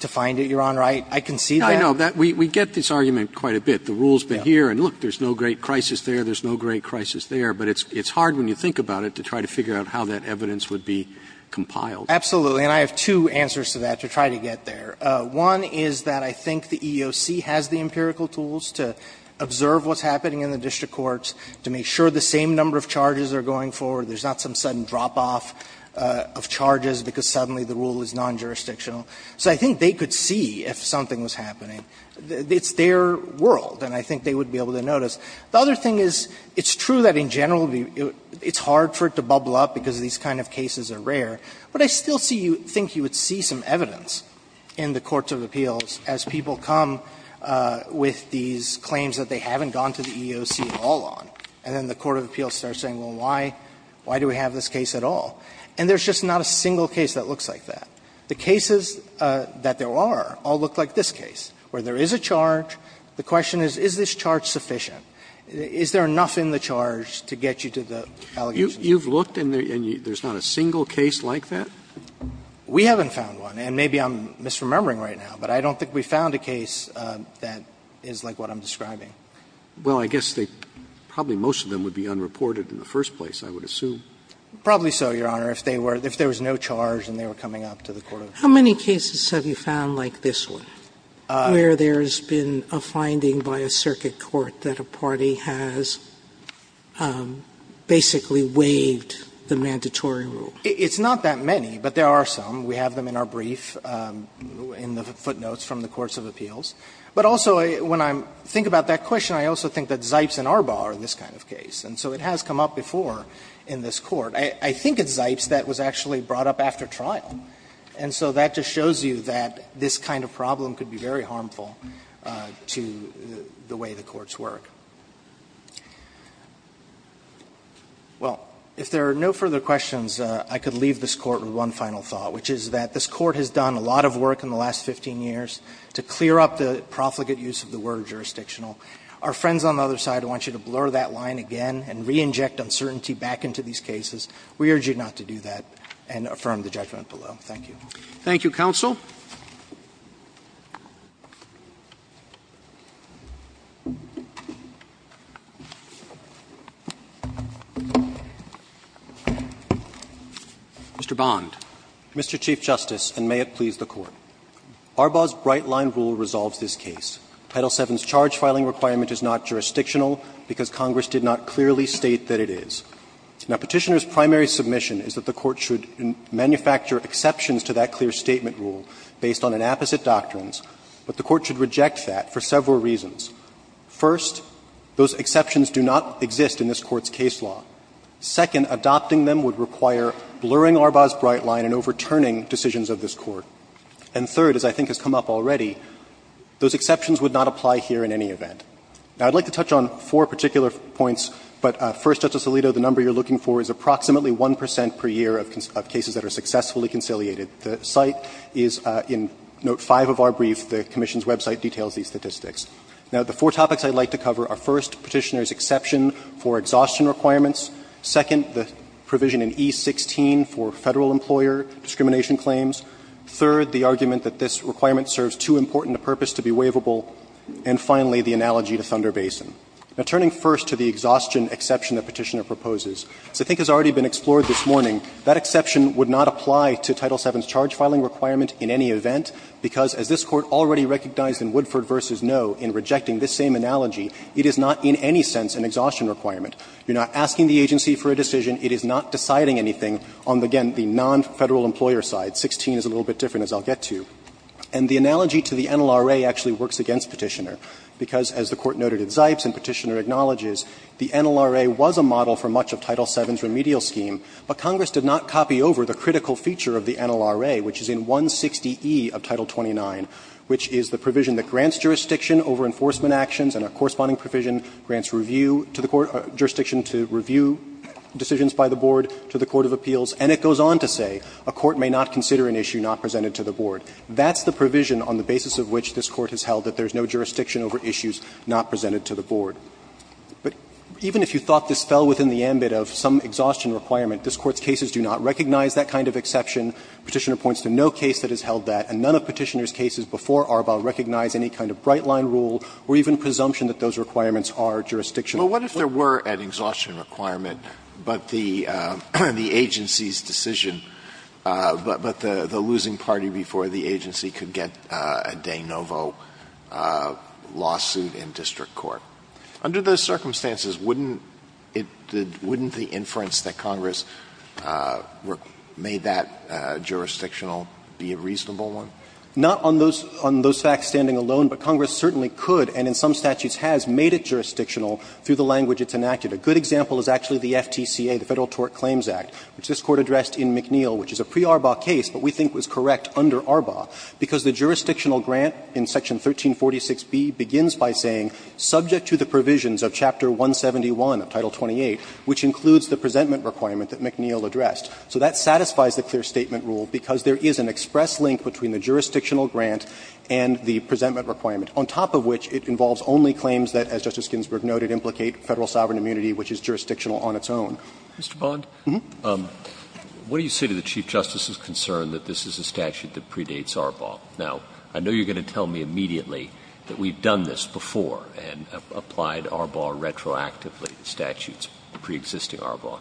find it, Your Honor. I can see that. I know. We get this argument quite a bit. The rule's been here, and look, there's no great crisis there, there's no great crisis there. But it's hard when you think about it to try to figure out how that evidence would be compiled. Absolutely. And I have two answers to that to try to get there. One is that I think the EEOC has the empirical tools to observe what's happening in the district courts, to make sure the same number of charges are going forward, there's not some sudden drop-off of charges because suddenly the rule is non-jurisdictional. So I think they could see if something was happening. It's their world, and I think they would be able to notice. The other thing is, it's true that in general it's hard for it to bubble up because these kind of cases are rare. But I still see you think you would see some evidence in the courts of appeals as people come with these claims that they haven't gone to the EEOC at all on, and then the court of appeals starts saying, well, why, why do we have this case at all? And there's just not a single case that looks like that. The cases that there are all look like this case, where there is a charge. The question is, is this charge sufficient? Is there enough in the charge to get you to the allegations? Roberts You've looked and there's not a single case like that? Dreeben We haven't found one, and maybe I'm misremembering right now, but I don't think we've found a case that is like what I'm describing. Roberts Well, I guess they – probably most of them would be unreported in the first place, I would assume. Dreeben Probably so, Your Honor, if they were – if there was no charge and they were coming up to the court of appeals. Sotomayor How many cases have you found like this one, where there's been a finding by a circuit court that a party has basically waived the mandatory rule? Dreeben It's not that many, but there are some. We have them in our brief, in the footnotes from the courts of appeals. But also, when I think about that question, I also think that Zipes and Arbaugh are this kind of case. And so it has come up before in this Court. I think it's Zipes that was actually brought up after trial. And so that just shows you that this kind of problem could be very harmful to the way the courts work. Well, if there are no further questions, I could leave this Court with one final thought, which is that this Court has done a lot of work in the last 15 years to clear up the profligate use of the word jurisdictional. Our friends on the other side want you to blur that line again and reinject uncertainty back into these cases. We urge you not to do that and affirm the judgment below. Thank you. Roberts. Thank you, counsel. Mr. Bond. Mr. Chief Justice, and may it please the Court. Arbaugh's Bright Line rule resolves this case. Title VII's charge filing requirement is not jurisdictional because Congress did not clearly state that it is. Now, Petitioner's primary submission is that the Court should manufacture exceptions to that clear statement rule based on an opposite doctrine, but the Court should reject that for several reasons. First, those exceptions do not exist in this Court's case law. Second, adopting them would require blurring Arbaugh's Bright Line and overturning decisions of this Court. And third, as I think has come up already, those exceptions would not apply here in any event. Now, I'd like to touch on four particular points, but first, Justice Alito, the number you're looking for is approximately 1 percent per year of cases that are successfully conciliated. The site is in note 5 of our brief. The Commission's website details these statistics. Now, the four topics I'd like to cover are, first, Petitioner's exception for exhaustion requirements. Second, the provision in E16 for Federal employer discrimination claims. Third, the argument that this requirement serves too important a purpose to be waivable. And finally, the analogy to Thunder Basin. Now, turning first to the exhaustion exception that Petitioner proposes, as I think has already been explored this morning, that exception would not apply to Title VII's charge filing requirement in any event, because as this Court already recognized in Woodford v. No in rejecting this same analogy, it is not in any sense an exhaustion requirement. You're not asking the agency for a decision. It is not deciding anything on, again, the non-Federal employer side. 16 is a little bit different, as I'll get to. And the analogy to the NLRA actually works against Petitioner, because as the Court noted at Zipes and Petitioner acknowledges, the NLRA was a model for much of Title VII's remedial scheme, but Congress did not copy over the critical feature of the NLRA, which is in 160E of Title 29, which is the provision that grants jurisdiction over enforcement actions and a corresponding provision grants review to the court or jurisdiction to review decisions by the board to the court of appeals. And it goes on to say a court may not consider an issue not presented to the board. That's the provision on the basis of which this Court has held that there's no jurisdiction over issues not presented to the board. But even if you thought this fell within the ambit of some exhaustion requirement, this Court's cases do not recognize that kind of exception. Petitioner points to no case that has held that, and none of Petitioner's cases before Arbaugh recognize any kind of bright-line rule or even presumption that those requirements are jurisdiction. Alitoso, what if there were an exhaustion requirement, but the agency's decision was that there was no jurisdiction, but the losing party before the agency could get a de novo lawsuit in district court? Under those circumstances, wouldn't it be the inference that Congress made that jurisdictional be a reasonable one? Not on those facts standing alone, but Congress certainly could, and in some statutes has, made it jurisdictional through the language it's enacted. A good example is actually the FTCA, the Federal Tort Claims Act, which this Court addressed in McNeill, which is a pre-Arbaugh case, but we think was correct under Arbaugh, because the jurisdictional grant in section 1346B begins by saying, subject to the provisions of chapter 171 of Title 28, which includes the presentment requirement that McNeill addressed. So that satisfies the clear statement rule, because there is an express link between the jurisdictional grant and the presentment requirement, on top of which it involves only claims that, as Justice Ginsburg noted, implicate Federal sovereign immunity, which is jurisdictional on its own. Mr. Bond, what do you say to the Chief Justice's concern that this is a statute that predates Arbaugh? Now, I know you're going to tell me immediately that we've done this before and applied Arbaugh retroactively to statutes preexisting Arbaugh.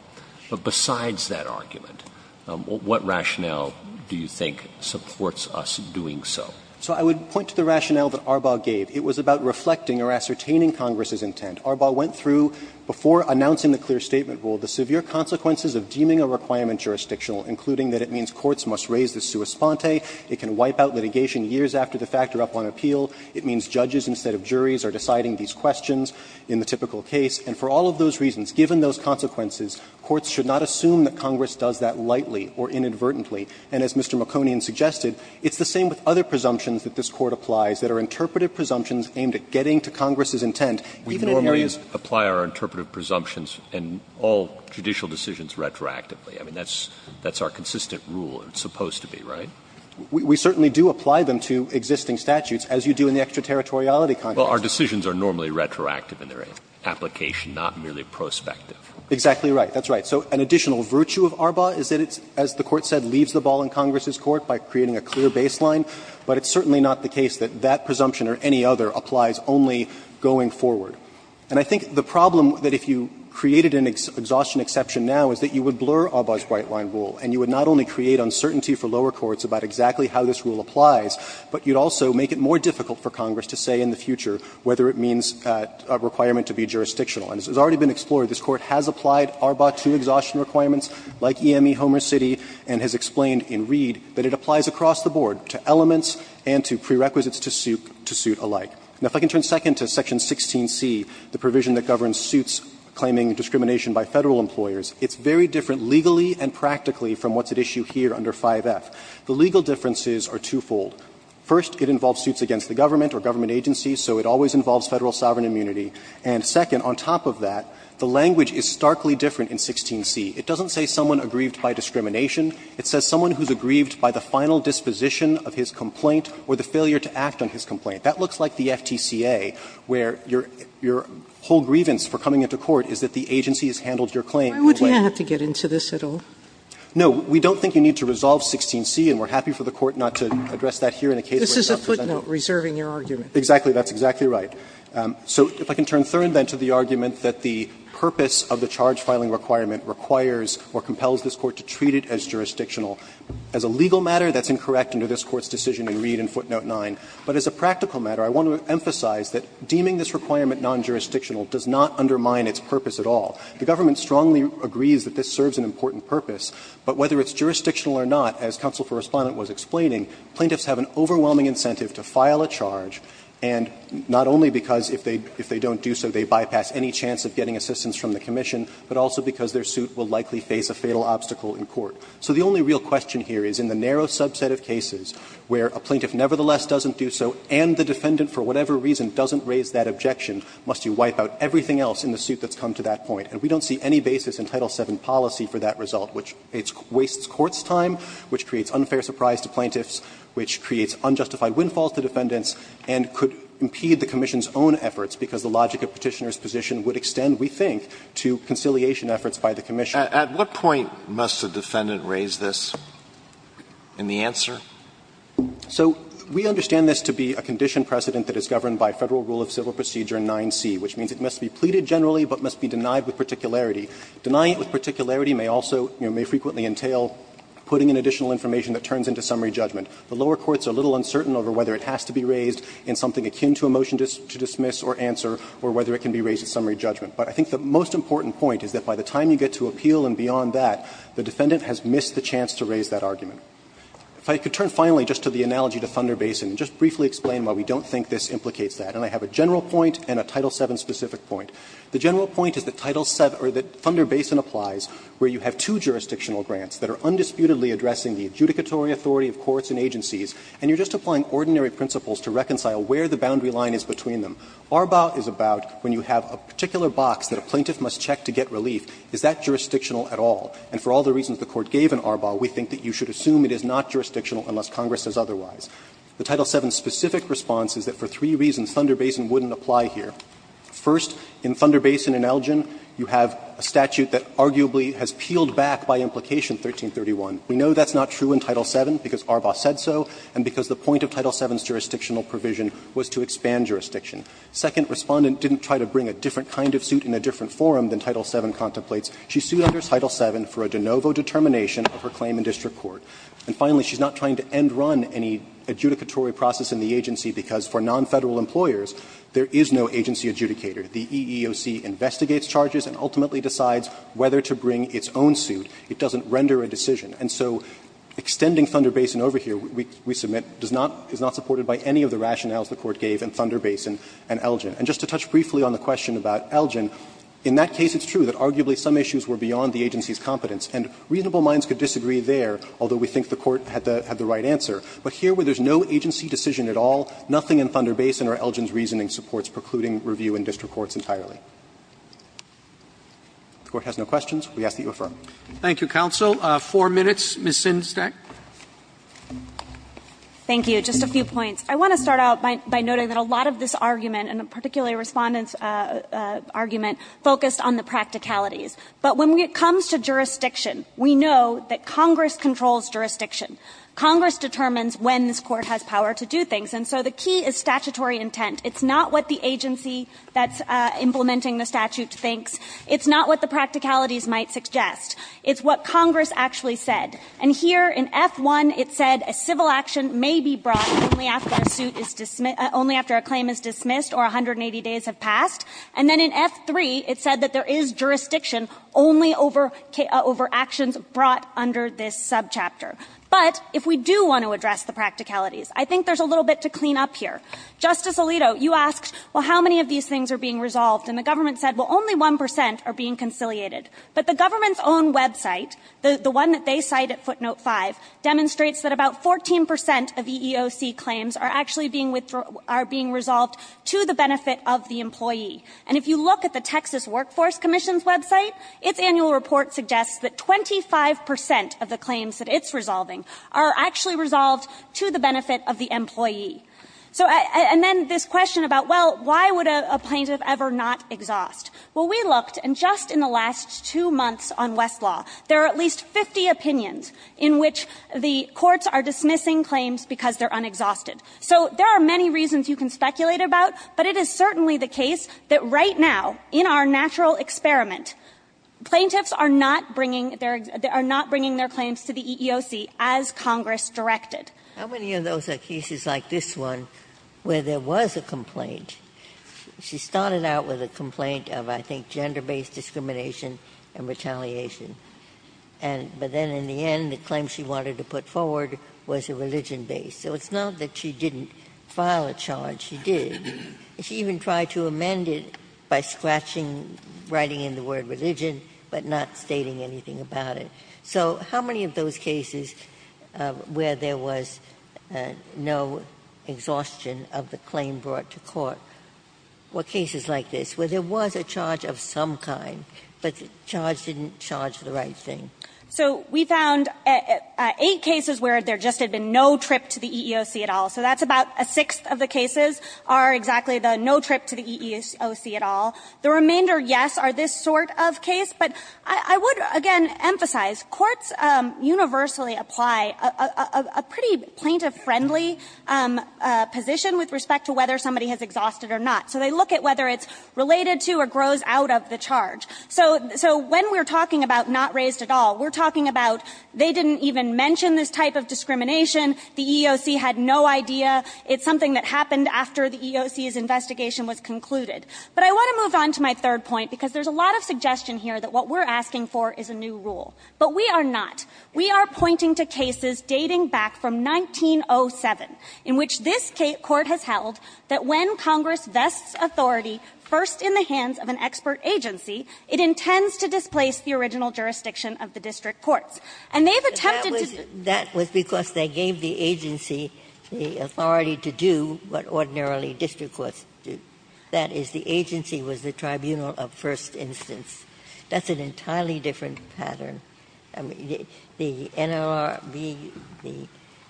But besides that argument, what rationale do you think supports us doing so? So I would point to the rationale that Arbaugh gave. It was about reflecting or ascertaining Congress's intent. Arbaugh went through, before announcing the clear statement rule, the severe consequences of deeming a requirement jurisdictional, including that it means courts must raise the sua sponte, it can wipe out litigation years after the fact or up on appeal, it means judges instead of juries are deciding these questions in the typical case, and for all of those reasons, given those consequences, courts should not assume that Congress does that lightly or inadvertently. And as Mr. Maconian suggested, it's the same with other presumptions that this Court applies that are interpretive presumptions aimed at getting to Congress's intent. Even in areas of the law. Roberts, we normally apply our interpretive presumptions and all judicial decisions retroactively. I mean, that's our consistent rule. It's supposed to be, right? We certainly do apply them to existing statutes, as you do in the extraterritoriality context. Well, our decisions are normally retroactive in their application, not merely prospective. Exactly right. That's right. So an additional virtue of Arbaugh is that it's, as the Court said, leaves the ball in Congress's court by creating a clear baseline. But it's certainly not the case that that presumption or any other applies only going forward. And I think the problem that if you created an exhaustion exception now is that you would blur Arbaugh's white-line rule, and you would not only create uncertainty for lower courts about exactly how this rule applies, but you'd also make it more difficult for Congress to say in the future whether it means a requirement to be jurisdictional. And as has already been explored, this Court has applied Arbaugh to exhaustion requirements, like EME Homer City, and has explained in Reed that it applies across the board to elements and to prerequisites to suit alike. Now, if I can turn second to section 16C, the provision that governs suits claiming discrimination by Federal employers, it's very different legally and practically from what's at issue here under 5F. The legal differences are twofold. First, it involves suits against the government or government agencies, so it always involves Federal sovereign immunity. And second, on top of that, the language is starkly different in 16C. It doesn't say someone aggrieved by discrimination. It says someone who's aggrieved by the final disposition of his complaint or the failure to act on his complaint. That looks like the FTCA, where your whole grievance for coming into court is that the agency has handled your claim in a way that's not fair. Sotomayor, why would you have to get into this at all? No, we don't think you need to resolve 16C, and we're happy for the Court not to address that here in a case where it's not presentable. This is a footnote reserving your argument. Exactly. That's exactly right. So if I can turn third, then, to the argument that the purpose of the charge filing requirement requires or compels this Court to treat it as jurisdictional. As a legal matter, that's incorrect under this Court's decision in Reed and footnote 9. But as a practical matter, I want to emphasize that deeming this requirement non-jurisdictional does not undermine its purpose at all. The government strongly agrees that this serves an important purpose, but whether it's jurisdictional or not, as counsel for Respondent was explaining, plaintiffs have an overwhelming incentive to file a charge, and not only because if they don't do so, they bypass any chance of getting assistance from the commission, but also because their suit will likely face a fatal obstacle in court. So the only real question here is in the narrow subset of cases where a plaintiff nevertheless doesn't do so and the defendant, for whatever reason, doesn't raise that objection, must you wipe out everything else in the suit that's come to that point? And we don't see any basis in Title VII policy for that result, which wastes court's time, which creates unfair surprise to plaintiffs, which creates unjustified windfalls to defendants, and could impede the commission's own efforts because the logic of Petitioner's position would extend, we think, to conciliation efforts by the commission. Alitoso, at what point must a defendant raise this in the answer? So we understand this to be a condition precedent that is governed by Federal Rule of Civil Procedure 9c, which means it must be pleaded generally but must be denied with particularity. Denying it with particularity may also, you know, may frequently entail putting in additional information that turns into summary judgment. The lower courts are a little uncertain over whether it has to be raised in something akin to a motion to dismiss or answer, or whether it can be raised at summary judgment. But I think the most important point is that by the time you get to appeal and beyond that, the defendant has missed the chance to raise that argument. If I could turn finally just to the analogy to Thunder Basin and just briefly explain why we don't think this implicates that. And I have a general point and a Title VII-specific point. The general point is that Title VII or that Thunder Basin applies where you have two jurisdictional grants that are undisputedly addressing the adjudicatory authority of courts and agencies, and you're just applying ordinary principles to reconcile where the boundary line is between them. ARBA is about when you have a particular box that a plaintiff must check to get relief. Is that jurisdictional at all? And for all the reasons the Court gave in ARBA, we think that you should assume it is not jurisdictional unless Congress says otherwise. The Title VII-specific response is that for three reasons Thunder Basin wouldn't apply here. First, in Thunder Basin and Elgin, you have a statute that arguably has peeled back by implication 1331. We know that's not true in Title VII because ARBA said so and because the point of Title VII's jurisdictional provision was to expand jurisdiction. Second, Respondent didn't try to bring a different kind of suit in a different forum than Title VII contemplates. She sued under Title VII for a de novo determination of her claim in district court. And finally, she's not trying to end run any adjudicatory process in the agency because for non-Federal employers, there is no agency adjudicator. The EEOC investigates charges and ultimately decides whether to bring its own suit. It doesn't render a decision. And so extending Thunder Basin over here, we submit, does not – is not supported by any of the rationales the Court gave in Thunder Basin and Elgin. And just to touch briefly on the question about Elgin, in that case it's true that Elgin's issues were beyond the agency's competence, and reasonable minds could disagree there, although we think the Court had the right answer. But here, where there's no agency decision at all, nothing in Thunder Basin or Elgin's reasoning supports precluding review in district courts entirely. If the Court has no questions, we ask that you affirm. Roberts. Thank you, counsel. Four minutes, Ms. Sindsdijk. Thank you. Just a few points. I want to start out by noting that a lot of this argument, and particularly Respondent's argument, focused on the practicalities. But when it comes to jurisdiction, we know that Congress controls jurisdiction. Congress determines when this Court has power to do things. And so the key is statutory intent. It's not what the agency that's implementing the statute thinks. It's not what the practicalities might suggest. It's what Congress actually said. And here, in F-1, it said a civil action may be brought only after a suit is – only after a claim is dismissed or 180 days have passed. And then in F-3, it said that there is jurisdiction only over actions brought under this subchapter. But if we do want to address the practicalities, I think there's a little bit to clean up here. Justice Alito, you asked, well, how many of these things are being resolved? And the government said, well, only 1 percent are being conciliated. But the government's own website, the one that they cite at footnote 5, demonstrates that about 14 percent of EEOC claims are actually being – are being resolved to the benefit of the employee. And if you look at the Texas Workforce Commission's website, its annual report suggests that 25 percent of the claims that it's resolving are actually resolved to the benefit of the employee. So – and then this question about, well, why would a plaintiff ever not exhaust? Well, we looked, and just in the last two months on Westlaw, there are at least 50 opinions in which the courts are dismissing claims because they're unexhausted. So there are many reasons you can speculate about, but it is certainly the case that right now, in our natural experiment, plaintiffs are not bringing their – are not bringing their claims to the EEOC as Congress directed. Ginsburg. How many of those are cases like this one where there was a complaint? She started out with a complaint of, I think, gender-based discrimination and retaliation. And – but then in the end, the claim she wanted to put forward was a religion-based. So it's not that she didn't file a charge. She did. She even tried to amend it by scratching, writing in the word religion, but not stating anything about it. So how many of those cases where there was no exhaustion of the claim brought to court were cases like this, where there was a charge of some kind, but the charge didn't charge the right thing? So we found eight cases where there just had been no trip to the EEOC at all. So that's about a sixth of the cases are exactly the no trip to the EEOC at all. The remainder, yes, are this sort of case. But I would, again, emphasize courts universally apply a pretty plaintiff-friendly position with respect to whether somebody has exhausted or not. So they look at whether it's related to or grows out of the charge. So when we're talking about not raised at all, we're talking about they didn't even mention this type of discrimination. The EEOC had no idea. It's something that happened after the EEOC's investigation was concluded. But I want to move on to my third point, because there's a lot of suggestion here that what we're asking for is a new rule. But we are not. We are pointing to cases dating back from 1907, in which this Court has held that when Congress vests authority first in the hands of an expert agency, it intends to displace the original jurisdiction of the district courts. And they have attempted to do that. Ginsburg-Miller That was because they gave the agency the authority to do what ordinarily district courts do. That is, the agency was the tribunal of first instance. That's an entirely different pattern. The NLRB, the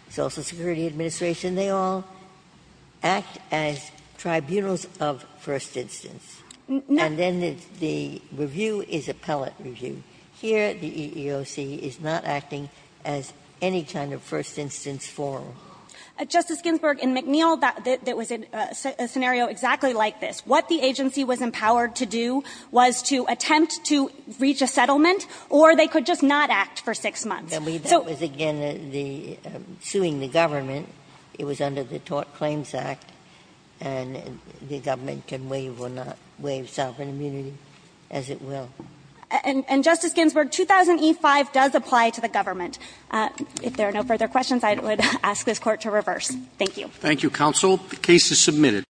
Social Security Administration, they all act as tribunals of first instance. And then the review is appellate review. Here, the EEOC is not acting as any kind of first instance forum. Kagan Justice Ginsburg, in McNeil, that was a scenario exactly like this. What the agency was empowered to do was to attempt to reach a settlement, or they could just not act for 6 months. So we don't have to do that. Ginsburg-Miller That was, again, suing the government. It was under the Tort Claims Act. And the government can waive or not waive sovereign immunity as it will. And, Justice Ginsburg, 2000e5 does apply to the government. If there are no further questions, I would ask this Court to reverse. Thank you. Roberts Thank you, counsel. The case is submitted.